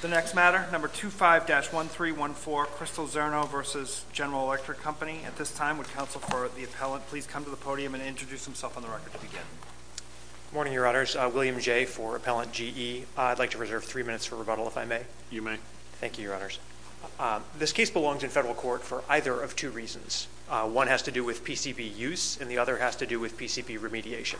The next matter, number 25-1314, Crystal Czerno v. General Electric Company. At this time, would counsel for the appellant please come to the podium and introduce himself on the record to begin. Good morning, Your Honors. William Jay for Appellant GE. I'd like to reserve three minutes for rebuttal, if I may. You may. Thank you, Your Honors. This case belongs in federal court for either of two reasons. One has to do with PCP use, and the other has to do with PCP remediation.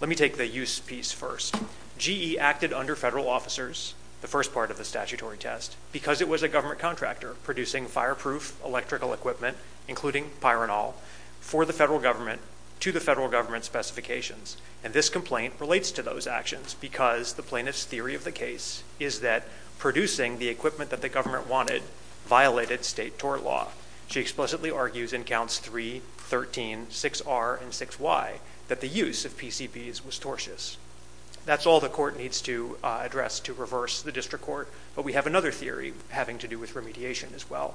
Let me take the use piece first. GE acted under federal officers, the first part of the statutory test, because it was a government contractor producing fireproof electrical equipment, including Pyrenol, for the federal government to the federal government's specifications. And this complaint relates to those actions because the plaintiff's theory of the case is that producing the equipment that the government wanted violated state tort law. She explicitly argues in counts 3, 13, 6R, and 6Y that the use of PCPs was tortious. That's all the court needs to address to reverse the district court, but we have another theory having to do with remediation as well.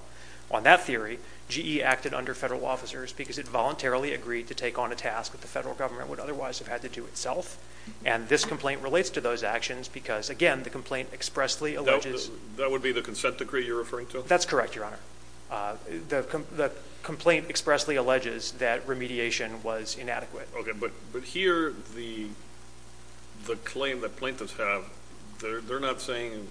On that theory, GE acted under federal officers because it voluntarily agreed to take on a task that the federal government would otherwise have had to do itself. And this complaint relates to those actions because, again, the complaint expressly alleges That would be the consent decree you're referring to? That's correct, Your Honor. The complaint expressly alleges that remediation was inadequate. Okay, but here the claim that plaintiffs have, they're not saying,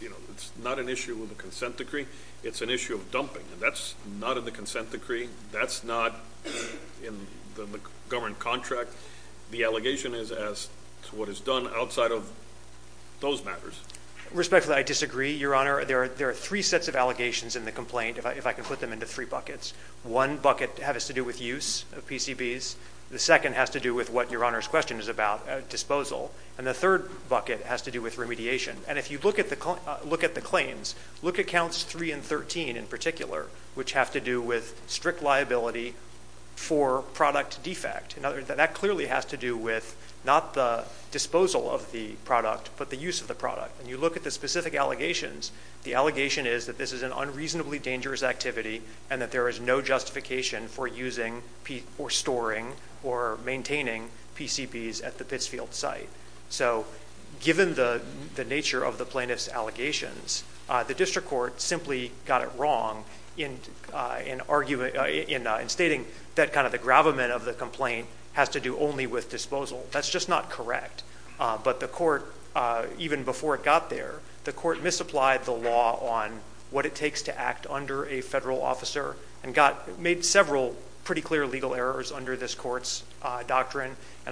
you know, it's not an issue with a consent decree. It's an issue of dumping, and that's not in the consent decree. That's not in the government contract. The allegation is as to what is done outside of those matters. Respectfully, I disagree, Your Honor. There are three sets of allegations in the complaint, if I can put them into three buckets. One bucket has to do with use of PCBs. The second has to do with what Your Honor's question is about, disposal. And the third bucket has to do with remediation. And if you look at the claims, look at counts 3 and 13 in particular, which have to do with strict liability for product defect. That clearly has to do with not the disposal of the product, but the use of the product. And you look at the specific allegations, the allegation is that this is an unreasonably dangerous activity and that there is no justification for using or storing or maintaining PCBs at the Pittsfield site. So given the nature of the plaintiff's allegations, the district court simply got it wrong in stating that kind of the gravamen of the complaint has to do only with disposal. That's just not correct. But the court, even before it got there, the court misapplied the law on what it takes to act under a federal officer and made several pretty clear legal errors under this court's And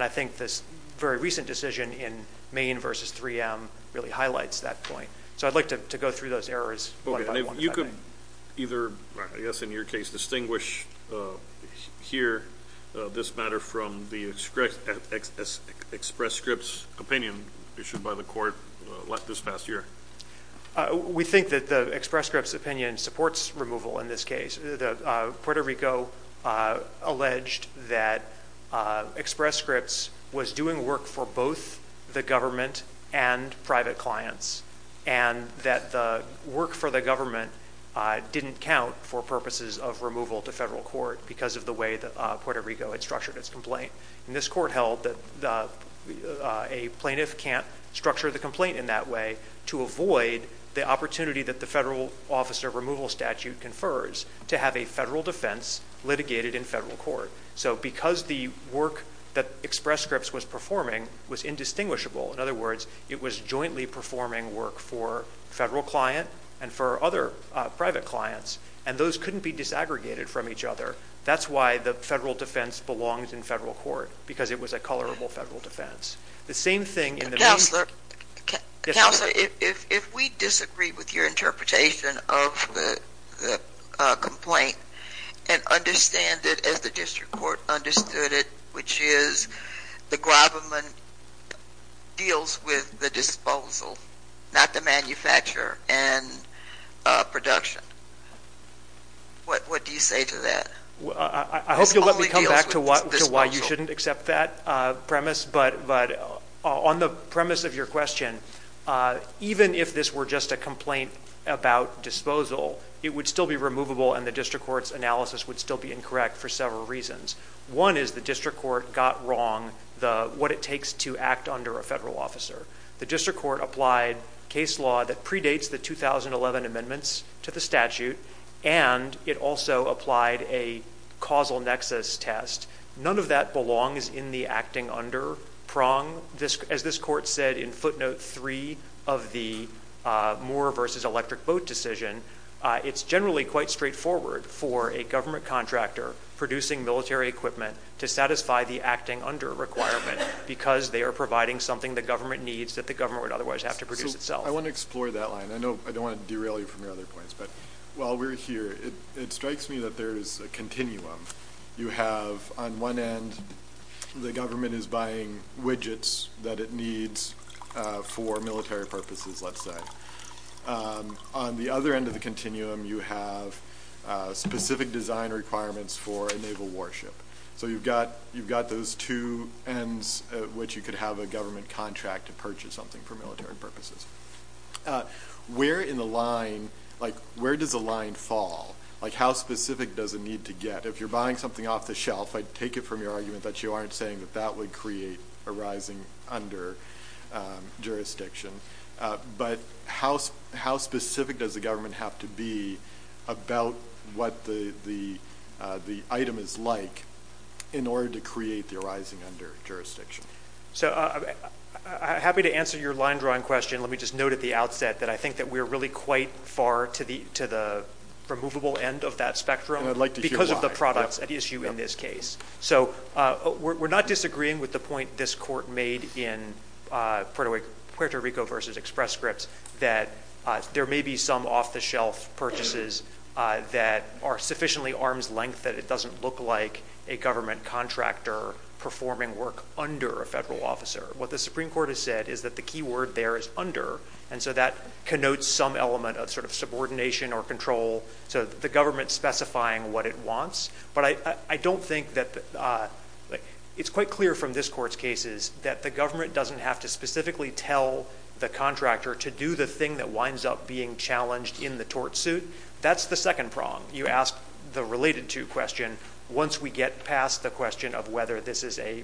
I think this very recent decision in Maine v. 3M really highlights that point. So I'd like to go through those errors one by one. You could either, I guess in your case, distinguish here this matter from the Express Scripts opinion issued by the court this past year. We think that the Express Scripts opinion supports removal in this case. Puerto Rico alleged that Express Scripts was doing work for both the government and private clients and that the work for the government didn't count for purposes of removal to federal court because of the way that Puerto Rico had structured its complaint. This court held that a plaintiff can't structure the complaint in that way to avoid the opportunity that the federal officer removal statute confers to have a federal defense litigated in federal court. So because the work that Express Scripts was performing was indistinguishable, in other words, it was performing work for federal client and for other private clients and those couldn't be disaggregated from each other. That's why the federal defense belongs in federal court because it was a colorable federal defense. The same thing in the... Counselor, if we disagree with your interpretation of the complaint and understand it as the manufacturer and production, what do you say to that? I hope you'll let me come back to why you shouldn't accept that premise, but on the premise of your question, even if this were just a complaint about disposal, it would still be removable and the district court's analysis would still be incorrect for several reasons. One is the district court got wrong what it takes to act under a federal officer. The district court applied case law that predates the 2011 amendments to the statute and it also applied a causal nexus test. None of that belongs in the acting under prong. As this court said in footnote three of the moor versus electric boat decision, it's generally quite straightforward for a government contractor producing military equipment to satisfy the under a requirement because they are providing something the government needs that the government would otherwise have to produce itself. I want to explore that line. I don't want to derail you from your other points, but while we're here, it strikes me that there's a continuum. You have on one end, the government is buying widgets that it needs for military purposes, let's say. On the other end of the continuum, you have specific design requirements for a naval warship. You've got those two ends at which you could have a government contract to purchase something for military purposes. Where in the line, where does the line fall? How specific does it need to get? If you're buying something off the shelf, I'd take it from your argument that you aren't saying that that would create a rising under jurisdiction, but how specific does the government have to be about what the item is like in order to create the rising under jurisdiction? I'm happy to answer your line drawing question. Let me just note at the outset that I think that we're really quite far to the removable end of that spectrum because of the products at issue in this case. We're not disagreeing with the point this court made in Puerto Rico versus Express Scripts that there may be some off-the-shelf purchases that are sufficiently arm's length that it doesn't look like a government contractor performing work under a federal officer. What the Supreme Court has said is that the key word there is under, and so that connotes some element of subordination or control. The government specifying what it wants, but I don't think that... It's quite clear from this court's cases that the government doesn't have to specifically tell the contractor to do the thing that winds up being challenged in the tort suit. That's the second prong. You ask the related to question once we get past the question of whether this is a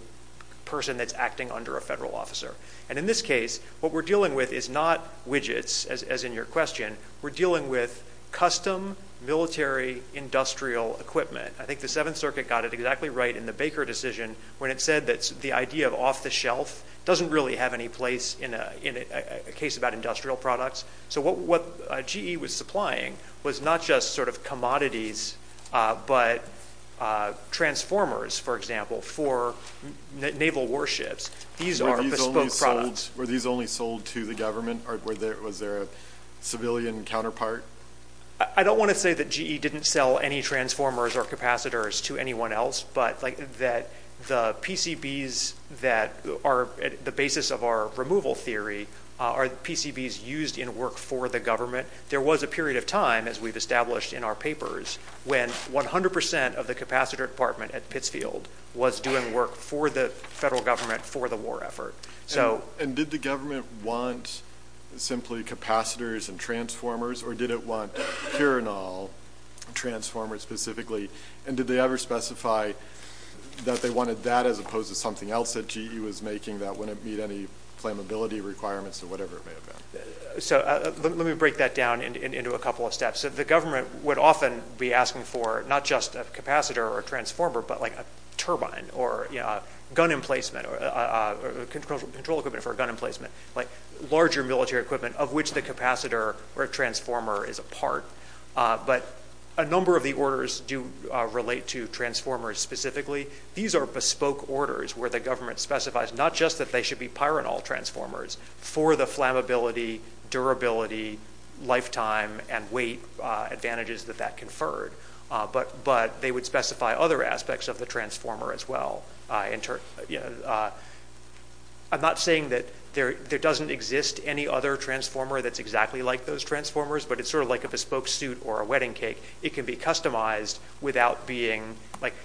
person that's acting under a federal officer. In this case, what we're dealing with is not widgets, as in your question. We're dealing with custom military industrial equipment. I think the Seventh Circuit got it exactly right in the Baker decision when it said that the idea of off-the-shelf doesn't really have any place in a case about industrial products. What GE was supplying was not just commodities, but transformers, for example, for naval warships. These are bespoke products. Were these only sold to the government? Was there a civilian counterpart? I don't want to say that GE didn't sell any transformers or capacitors to anyone else, but the PCBs that are the basis of our removal theory are PCBs used in work for the government. There was a period of time, as we've established in our papers, when 100% of the capacitor department at Pittsfield was doing work for the federal government for the war effort. Did the government want simply capacitors and transformers, or did it want purinol transformers specifically? Did they ever specify that they wanted that as opposed to something else that GE was making that wouldn't meet any flammability requirements or whatever it may have been? Let me break that down into a couple of steps. The government would often be asking for not just a capacitor or a transformer, but a turbine or gun emplacement or control equipment for a gun emplacement, larger military equipment of which the capacitor or transformer is a part. But a number of the orders do relate to transformers specifically. These are bespoke orders where the government specifies not just that they should be purinol transformers for the flammability, durability, lifetime, and weight advantages that that conferred, but they would specify other aspects of the transformer as well. I'm not saying that there doesn't exist any other transformer that's exactly like those transformers, but it's sort of like a bespoke suit or a wedding cake. It can be customized without being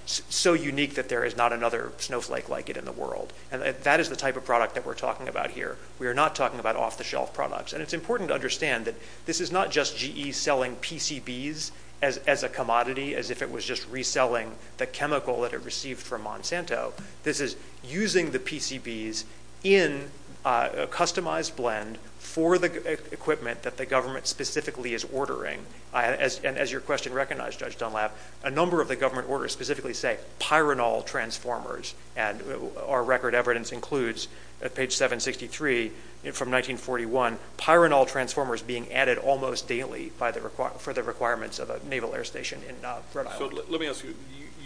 so unique that there is not another snowflake like it in the world. That is the type of product that we're talking about here. We are not talking about off-the-shelf products. It's important to understand that this is not just GE selling PCBs as a commodity as if it was just reselling the chemical that it received from Monsanto. This is using the PCBs in a customized blend for the equipment that the government specifically is ordering. And as your question recognized, Judge Dunlap, a number of the government orders specifically say purinol transformers. And our record evidence includes at page 763 from 1941, purinol transformers being added almost daily for the requirements of a naval air station in Rhode Island. Let me ask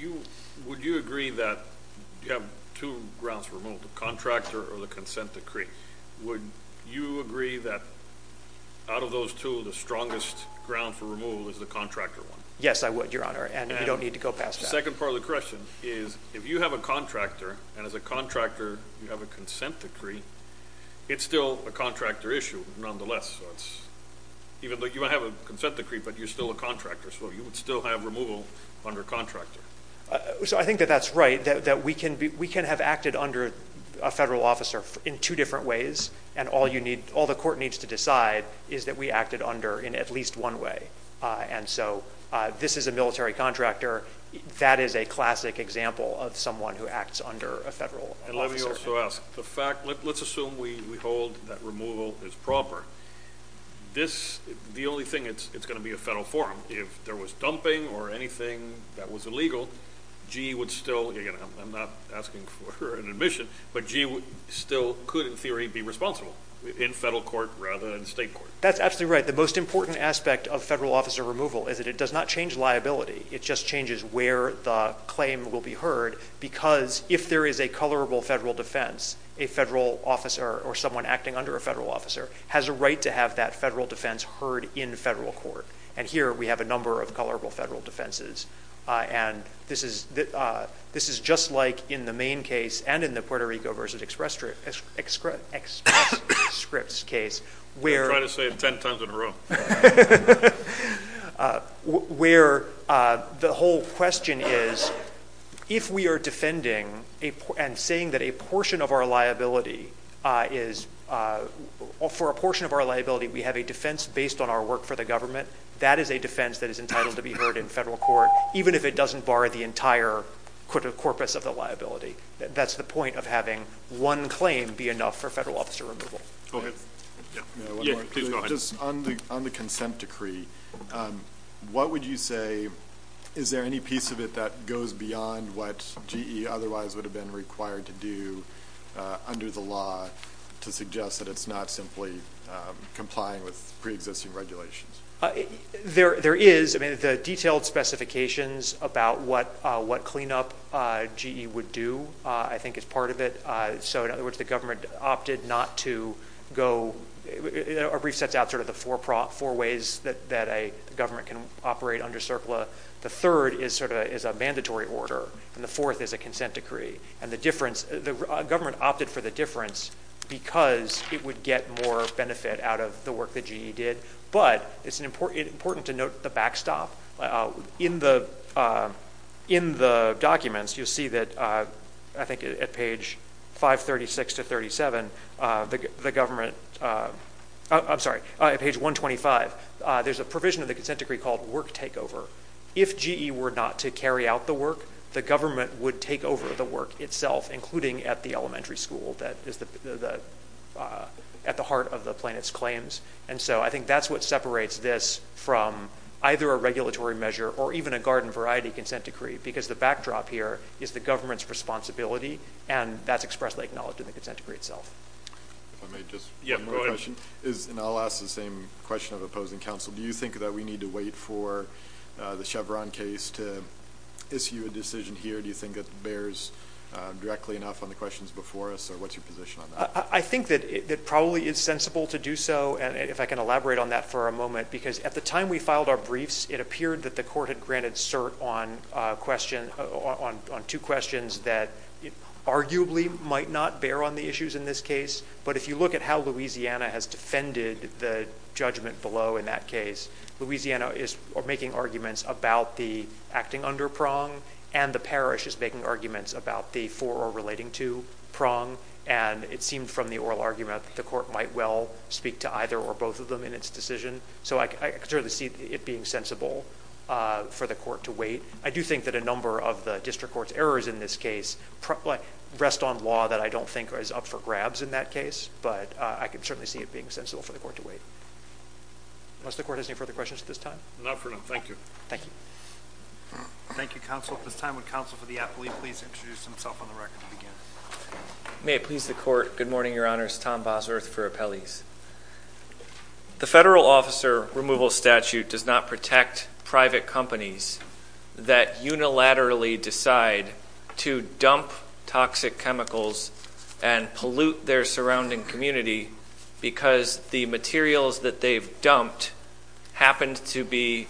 you, would you agree that you have two grounds for removal, the contractor or the consent decree? Would you agree that out of those two, the strongest ground for removal is the contractor one? Yes, I would, Your Honor, and you don't need to go past that. The second part of the question is, if you have a contractor, and as a contractor, you have a consent decree, it's still a contractor issue nonetheless. Even though you have a consent decree, but you're still a contractor, so you would still have removal under contractor. So I think that that's right, that we can have acted under a federal officer in two different ways, and all the court needs to decide is that we acted under in at least one way. And so this is a military contractor. That is a classic example of someone who acts under a federal officer. And let me also ask, let's assume we hold that removal is proper. The only thing, it's going to be a federal forum. If there was dumping or anything that was illegal, GE would still, again, I'm not asking for an admission, but GE still could, in theory, be responsible in federal court rather than state court. That's absolutely right. The most important aspect of federal officer removal is that it does not change liability. It just changes where the claim will be heard, because if there is a colorable federal defense, a federal officer or someone acting under a federal officer has a right to have that federal defense heard in federal court. And here, we have a number of colorable federal defenses. And this is just like in the main case and in the Puerto Rico versus Express Scripts case, where— I'm trying to say it 10 times in a row. —where the whole question is, if we are defending and saying that a portion of our liability is, for a portion of our liability, we have a defense based on our work for the agency, that is a defense that is entitled to be heard in federal court, even if it doesn't bar the entire corpus of the liability. That's the point of having one claim be enough for federal officer removal. Go ahead. Yeah, please go ahead. Just on the consent decree, what would you say—is there any piece of it that goes beyond what GE otherwise would have been required to do under the law to suggest that it's not simply complying with preexisting regulations? There is. I mean, the detailed specifications about what cleanup GE would do, I think, is part of it. So in other words, the government opted not to go—our brief sets out sort of the four ways that a government can operate under CERCLA. The third is sort of a mandatory order. And the fourth is a consent decree. And the difference—the government opted for the difference because it would get more benefit out of the work that GE did. But it's important to note the backstop. In the documents, you'll see that, I think, at page 536 to 537, the government—I'm sorry, at page 125, there's a provision of the consent decree called work takeover. If GE were not to carry out the work, the government would take over the work itself, including at the elementary school that is at the heart of the plaintiff's claims. And so I think that's what separates this from either a regulatory measure or even a garden variety consent decree, because the backdrop here is the government's responsibility, and that's expressly acknowledged in the consent decree itself. If I may just— Yeah, go ahead. And I'll ask the same question of opposing counsel. Do you think that we need to wait for the Chevron case to issue a decision here? Do you think that bears directly enough on the questions before us? Or what's your position on that? I think that it probably is sensible to do so, if I can elaborate on that for a moment, because at the time we filed our briefs, it appeared that the court had granted cert on two questions that arguably might not bear on the issues in this case. But if you look at how Louisiana has defended the judgment below in that case, Louisiana is making arguments about the acting under prong, and the parish is making arguments about the relating to prong. And it seemed from the oral argument that the court might well speak to either or both of them in its decision. So I could certainly see it being sensible for the court to wait. I do think that a number of the district court's errors in this case rest on law that I don't think is up for grabs in that case. But I could certainly see it being sensible for the court to wait. Unless the court has any further questions at this time? Not for now. Thank you. Thank you. Thank you, counsel. At this time, would counsel for the appellee please introduce himself on the record again? May it please the court. Good morning, your honors. Tom Bosworth for appellees. The federal officer removal statute does not protect private companies that unilaterally decide to dump toxic chemicals and pollute their surrounding community because the materials that they've dumped happened to be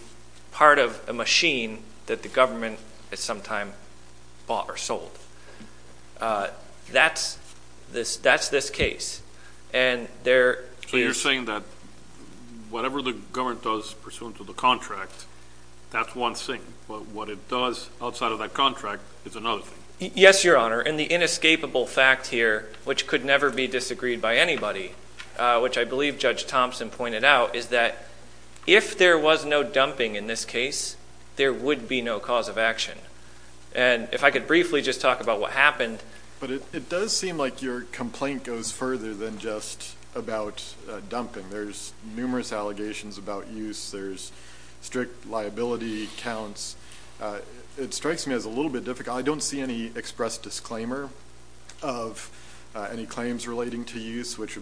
part of a machine that the government at some time bought or sold. That's this case. And there is- So you're saying that whatever the government does pursuant to the contract, that's one thing. But what it does outside of that contract is another thing. Yes, your honor. And the inescapable fact here, which could never be disagreed by anybody, which I believe Thompson pointed out, is that if there was no dumping in this case, there would be no cause of action. And if I could briefly just talk about what happened. But it does seem like your complaint goes further than just about dumping. There's numerous allegations about use. There's strict liability counts. It strikes me as a little bit difficult. I don't see any express disclaimer of any claims relating to use, which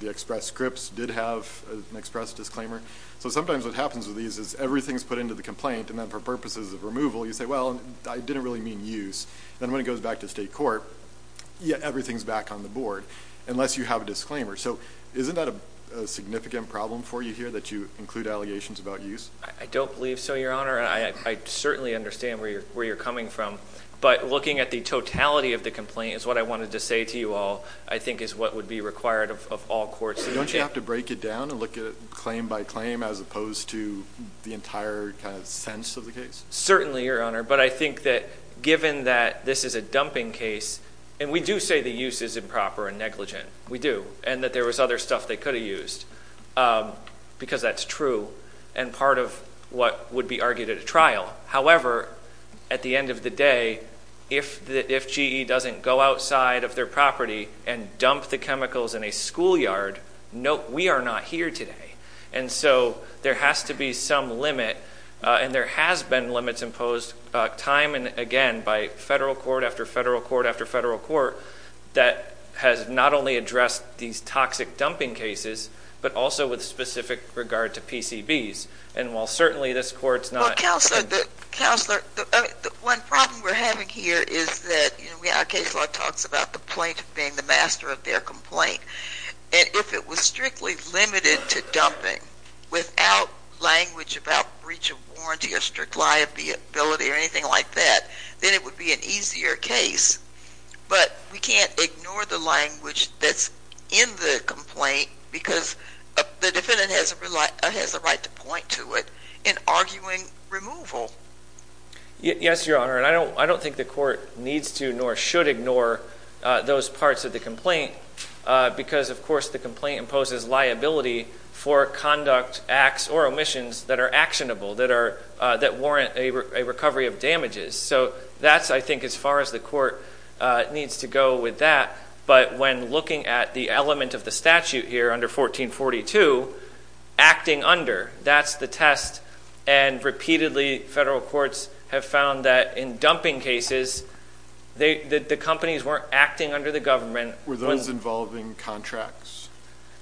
the express scripts did have an express disclaimer. So sometimes what happens with these is everything's put into the complaint. And then for purposes of removal, you say, well, I didn't really mean use. Then when it goes back to state court, everything's back on the board unless you have a So isn't that a significant problem for you here that you include allegations about use? I don't believe so, your honor. I certainly understand where you're coming from. But looking at the totality of the complaint is what I wanted to say to you all, I think is what would be required of all courts. Don't you have to break it down and look at it claim by claim as opposed to the entire kind of sense of the case? Certainly, your honor. But I think that given that this is a dumping case, and we do say the use is improper and negligent. We do. And that there was other stuff they could have used because that's true and part of what would be argued at a trial. However, at the end of the day, if GE doesn't go outside of their property and dump the chemicals in a schoolyard, we are not here today. And so there has to be some limit. And there has been limits imposed time and again by federal court after federal court after federal court that has not only addressed these toxic dumping cases, but also with specific regard to PCBs. And while certainly this court's not Counselor, one problem we're having here is that our case law talks about the plaintiff being the master of their complaint. And if it was strictly limited to dumping without language about breach of warranty or strict liability or anything like that, then it would be an easier case. But we can't ignore the language that's in the complaint because the defendant has a right to point to it in arguing removal. Yes, your honor. I don't think the court needs to nor should ignore those parts of the complaint because, of course, the complaint imposes liability for conduct acts or omissions that are actionable, that warrant a recovery of damages. So that's, I think, as far as the court needs to go with that. But when looking at the element of the statute here under 1442, acting under, that's the And repeatedly, federal courts have found that in dumping cases, the companies weren't acting under the government. Were those involving contracts?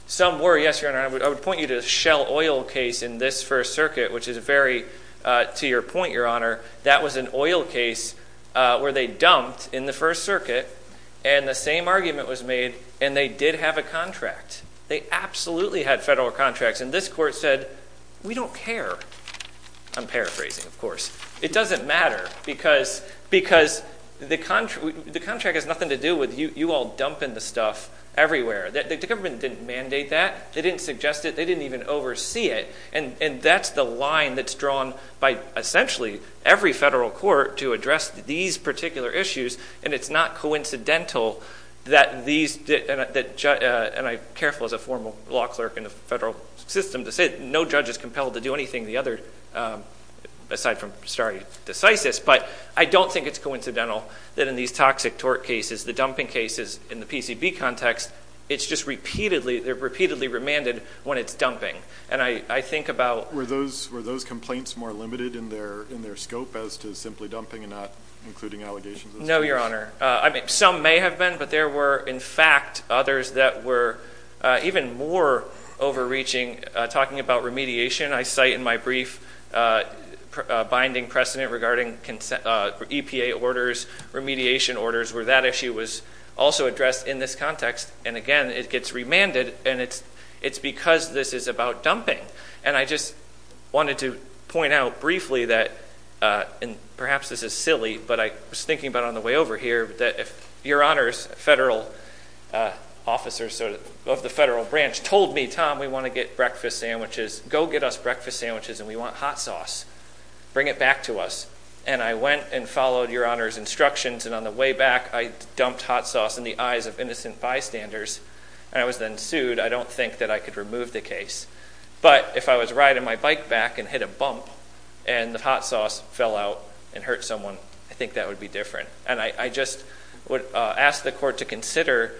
Some were, yes, your honor. I would point you to the Shell Oil case in this First Circuit, which is very, to your point, your honor, that was an oil case where they dumped in the First Circuit, and the same argument was made, and they did have a contract. They absolutely had federal contracts. And this court said, we don't care. I'm paraphrasing, of course. It doesn't matter because the contract has nothing to do with you all dumping the stuff everywhere. The government didn't mandate that. They didn't suggest it. They didn't even oversee it. And that's the line that's drawn by, essentially, every federal court to address these particular issues. And it's not coincidental that these, and I'm careful as a formal law clerk in the federal system to say no judge is compelled to do anything the other, aside from stare decisis, but I don't think it's coincidental that in these toxic torque cases, the dumping cases in the PCB context, it's just repeatedly, they're repeatedly remanded when it's dumping. And I think about Were those complaints more limited in their scope as to simply dumping and not including allegations? No, Your Honor. I mean, some may have been. But there were, in fact, others that were even more overreaching. Talking about remediation, I cite in my brief, a binding precedent regarding EPA orders, remediation orders, where that issue was also addressed in this context. And again, it gets remanded. And it's because this is about dumping. And I just wanted to point out briefly that, and perhaps this is silly, but I was thinking about on the way over here, that if Your Honor's federal officer of the federal branch told me, Tom, we want to get breakfast sandwiches, go get us breakfast sandwiches, and we want hot sauce, bring it back to us. And I went and followed Your Honor's instructions. And on the way back, I dumped hot sauce in the eyes of innocent bystanders. And I was then sued. I don't think that I could remove the case. But if I was riding my bike back and hit a bump, and the hot sauce fell out and hurt someone, I think that would be different. And I just would ask the court to consider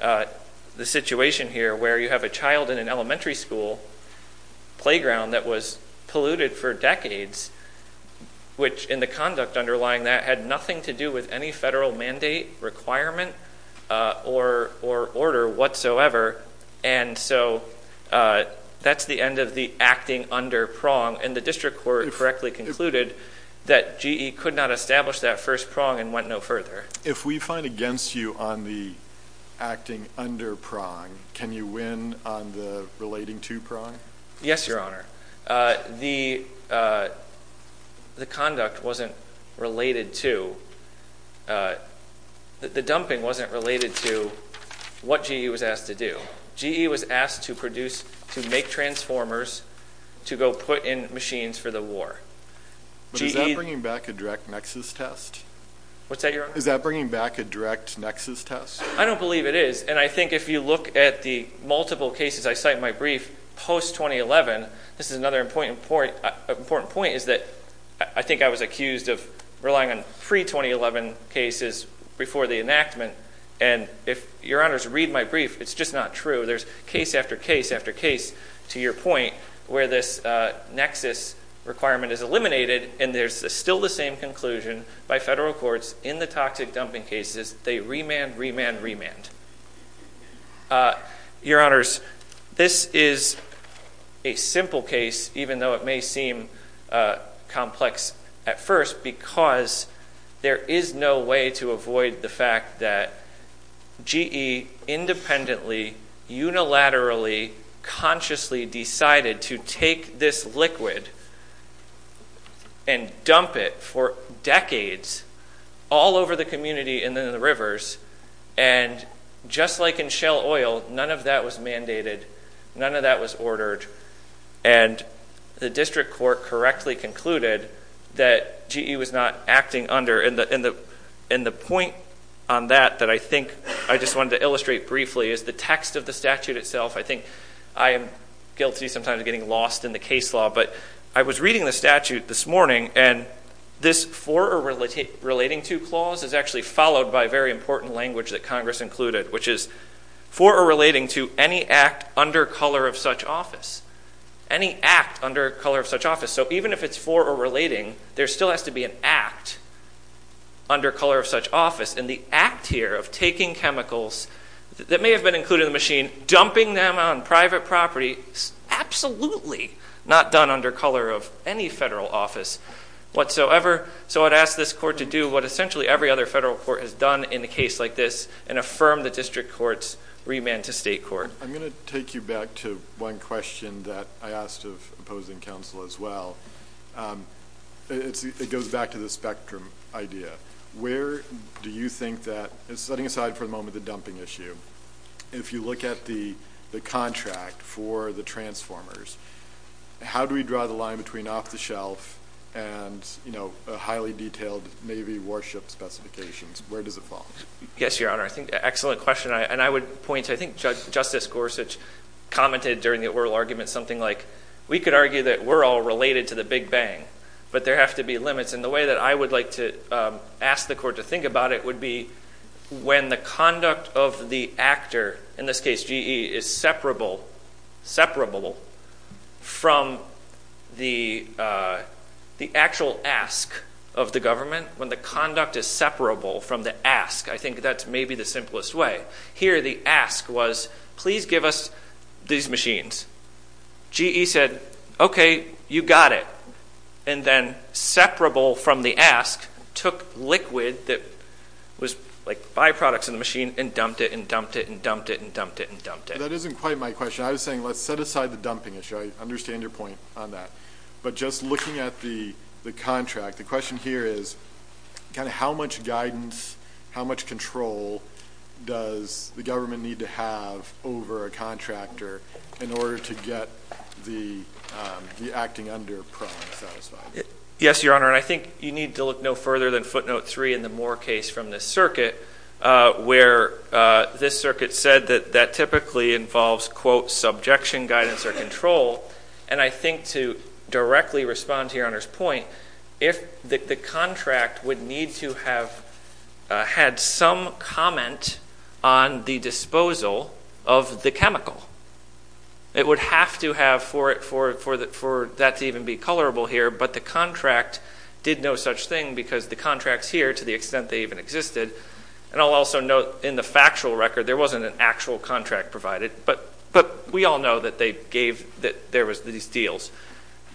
the situation here, where you have a child in an elementary school playground that was polluted for decades, which in the conduct underlying that had nothing to do with any federal mandate, requirement, or order whatsoever. And so that's the end of the acting under prong. And the district court correctly concluded that GE could not establish that first prong and went no further. If we find against you on the acting under prong, can you win on the relating to prong? Yes, Your Honor. The conduct wasn't related to, the dumping wasn't related to what GE was asked to do. GE was asked to produce, to make transformers to go put in machines for the war. But is that bringing back a direct nexus test? What's that, Your Honor? Is that bringing back a direct nexus test? I don't believe it is. And I think if you look at the multiple cases I cite in my brief post-2011, this is another important point, is that I think I was accused of relying on pre-2011 cases before the enactment. And if, Your Honors, read my brief, it's just not true. There's case after case after case to your point where this nexus requirement is eliminated, and there's still the same conclusion by federal courts in the toxic dumping cases. They remand, remand, remand. Your Honors, this is a simple case, even though it may seem complex at first, because there is no way to avoid the fact that GE independently, unilaterally, consciously decided to take this liquid and dump it for decades all over the community and in the rivers. And just like in Shell Oil, none of that was mandated. None of that was ordered. And the district court correctly concluded that GE was not acting under. And the point on that that I think I just wanted to illustrate briefly is the text of the statute itself. I think I am guilty sometimes of getting lost in the case law. But I was reading the statute this morning, and this for or relating to clause is actually followed by very important language that Congress included, which is for or relating to any act under color of such office. Any act under color of such office. So even if it's for or relating, there still has to be an act under color of such office. And the act here of taking chemicals that may have been included in the machine, dumping them on private property, absolutely not done under color of any federal office whatsoever. So I'd ask this court to do what essentially every other federal court has done in a case like this and affirm the district court's remand to state court. I'm going to take you back to one question that I asked of opposing counsel as well. It goes back to the spectrum idea. Where do you think that, setting aside for the moment the dumping issue, if you look at the contract for the transformers, how do we draw the line between off the shelf and highly detailed Navy warship specifications? Where does it fall? Yes, Your Honor. I think excellent question. And I would point to, I think Justice Gorsuch commented during the oral argument, something like we could argue that we're all related to the Big Bang, but there have to be limits. And the way that I would like to ask the court to think about it would be when the conduct of the actor, in this case GE, is separable from the actual ask of the government. When the conduct is separable from the ask, I think that's maybe the simplest way. Here the ask was, please give us these machines. GE said, okay, you got it. And then separable from the ask took liquid that was like byproducts in the machine and dumped it and dumped it and dumped it and dumped it and dumped it. That isn't quite my question. I was saying, let's set aside the dumping issue. I understand your point on that. But just looking at the contract, the question here is kind of how much guidance, how much control does the government need to have over a contractor in order to get the acting under pro and satisfied? Yes, Your Honor. And I think you need to look no further than footnote three in the Moore case from this circuit where this circuit said that that typically involves, quote, subjection, guidance, or control. And I think to directly respond to Your Honor's point, if the contract would need to have had some comment on the disposal of the chemical, it would have to have for that to even be colorable here. But the contract did no such thing because the contracts here, to the extent they even existed, and I'll also note in the factual record, there wasn't an actual contract provided. But we all know that they gave, that there was these deals.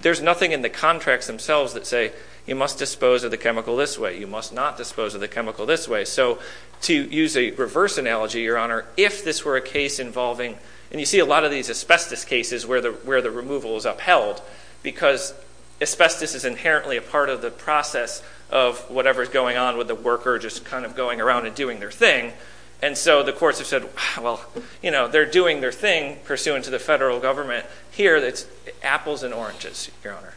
There's nothing in the contracts themselves that say you must dispose of the chemical this way. You must not dispose of the chemical this way. So to use a reverse analogy, Your Honor, if this were a case involving, and you see a lot of these asbestos cases where the removal is upheld because asbestos is inherently a part of the process of whatever's going on with the worker just kind of going around and doing their thing. And so the courts have said, well, you know, they're doing their thing pursuant to the federal government. Here, it's apples and oranges, Your Honor.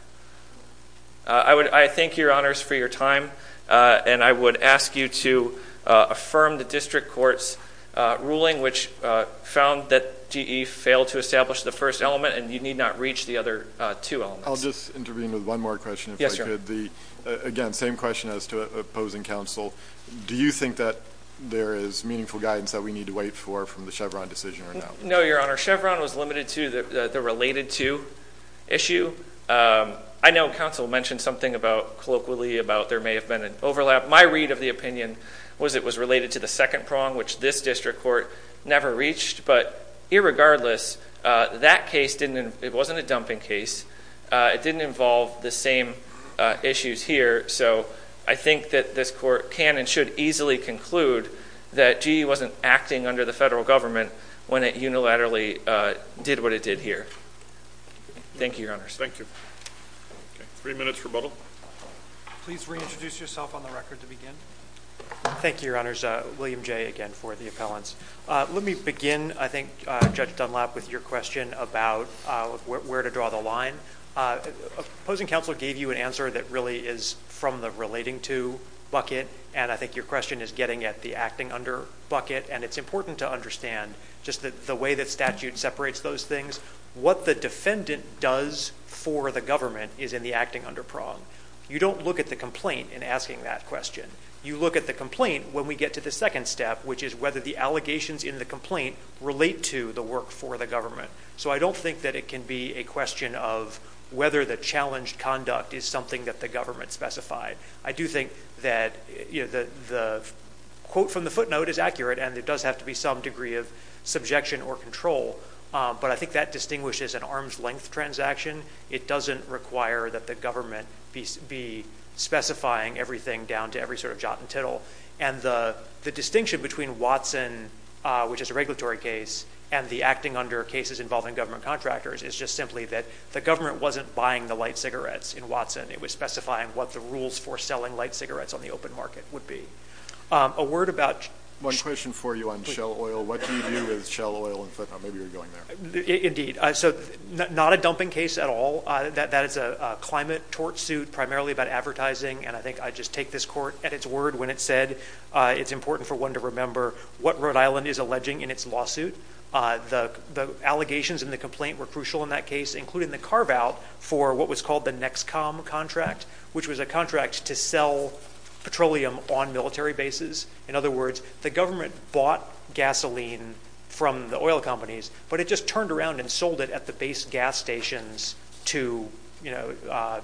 I thank Your Honors for your time, and I would ask you to affirm the district court's ruling which found that GE failed to establish the first element and you need not reach the other two elements. I'll just intervene with one more question, if I could. Again, same question as to opposing counsel. Do you think that there is meaningful guidance that we need to wait for from the Chevron decision or not? No, Your Honor. Chevron was limited to the related to issue. I know counsel mentioned something colloquially about there may have been an overlap. My read of the opinion was it was related to the second prong, which this district court never reached. But irregardless, that case didn't, it wasn't a dumping case. It didn't involve the same issues here. So I think that this court can and should easily conclude that GE wasn't acting under the federal government when it unilaterally did what it did here. Thank you, Your Honors. Thank you. Three minutes rebuttal. Please reintroduce yourself on the record to begin. Thank you, Your Honors. William Jay again for the appellants. Let me begin, I think, Judge Dunlap with your question about where to draw the line. Opposing counsel gave you an answer that really is from the relating to bucket, and I think your question is getting at the acting under bucket. And it's important to understand just the way that statute separates those things. What the defendant does for the government is in the acting under prong. You don't look at the complaint in asking that question. You look at the complaint when we get to the second step, which is whether the allegations in the complaint relate to the work for the government. So I don't think that it can be a question of whether the challenged conduct is something that the government specified. I do think that the quote from the footnote is accurate, and there does have to be some degree of subjection or control. But I think that distinguishes an arm's length transaction. It doesn't require that the government be specifying everything down to every sort of jot and tittle. And the distinction between Watson, which is a regulatory case, and the acting under cases involving government contractors is just simply that the government wasn't buying the light cigarettes in Watson. It was specifying what the rules for selling light cigarettes on the open market would be. A word about... One question for you on shell oil. What do you do with shell oil? And maybe you're going there. So not a dumping case at all. That is a climate tort suit primarily about advertising. And I think I just take this court at its word when it said it's important for one to remember what Rhode Island is alleging in its lawsuit. The allegations in the complaint were crucial in that case, including the carve out for what was called the NEXCOM contract, which was a contract to sell petroleum on military bases. In other words, the government bought gasoline from the oil companies, but it just turned around and sold it at the base gas stations to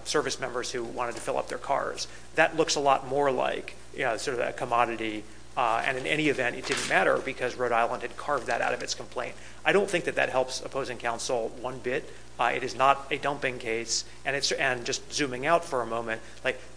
service members who wanted to fill up their cars. That looks a lot more like sort of a commodity. And in any event, it didn't matter because Rhode Island had carved that out of its complaint. I don't think that that helps opposing counsel one bit. It is not a dumping case. And just zooming out for a moment,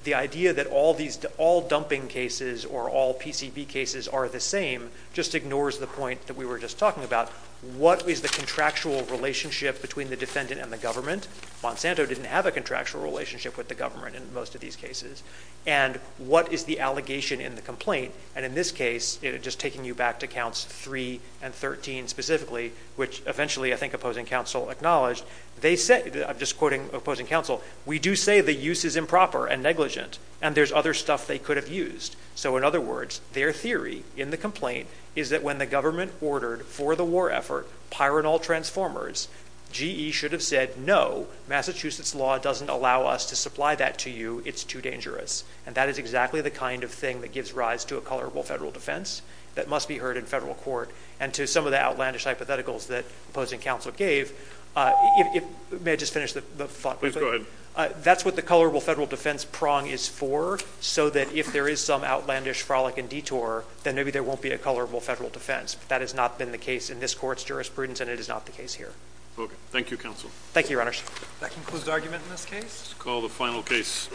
the idea that all dumping cases or all PCB cases are the same just ignores the point that we were just talking about. What is the contractual relationship between the defendant and the government? Monsanto didn't have a contractual relationship with the government in most of these cases. And what is the allegation in the complaint? And in this case, just taking you back to counts 3 and 13 specifically, which eventually I think opposing counsel acknowledged, they said, I'm just quoting opposing counsel, we do say the use is improper and negligent. And there's other stuff they could have used. So in other words, their theory in the complaint is that when the government ordered for the war effort, pyranol transformers, GE should have said, no, Massachusetts law doesn't allow us to supply that to you. It's too dangerous. And that is exactly the kind of thing that gives rise to a colorable federal defense that must be heard in federal court. And to some of the outlandish hypotheticals that opposing counsel gave, may I just finish the thought? Please go ahead. That's what the colorable federal defense prong is for. So that if there is some outlandish frolic and detour, then maybe there won't be a colorable federal defense. But that has not been the case in this court's jurisprudence. And it is not the case here. Okay. Thank you, counsel. Thank you, Your Honor. That concludes the argument in this case. Call the final case.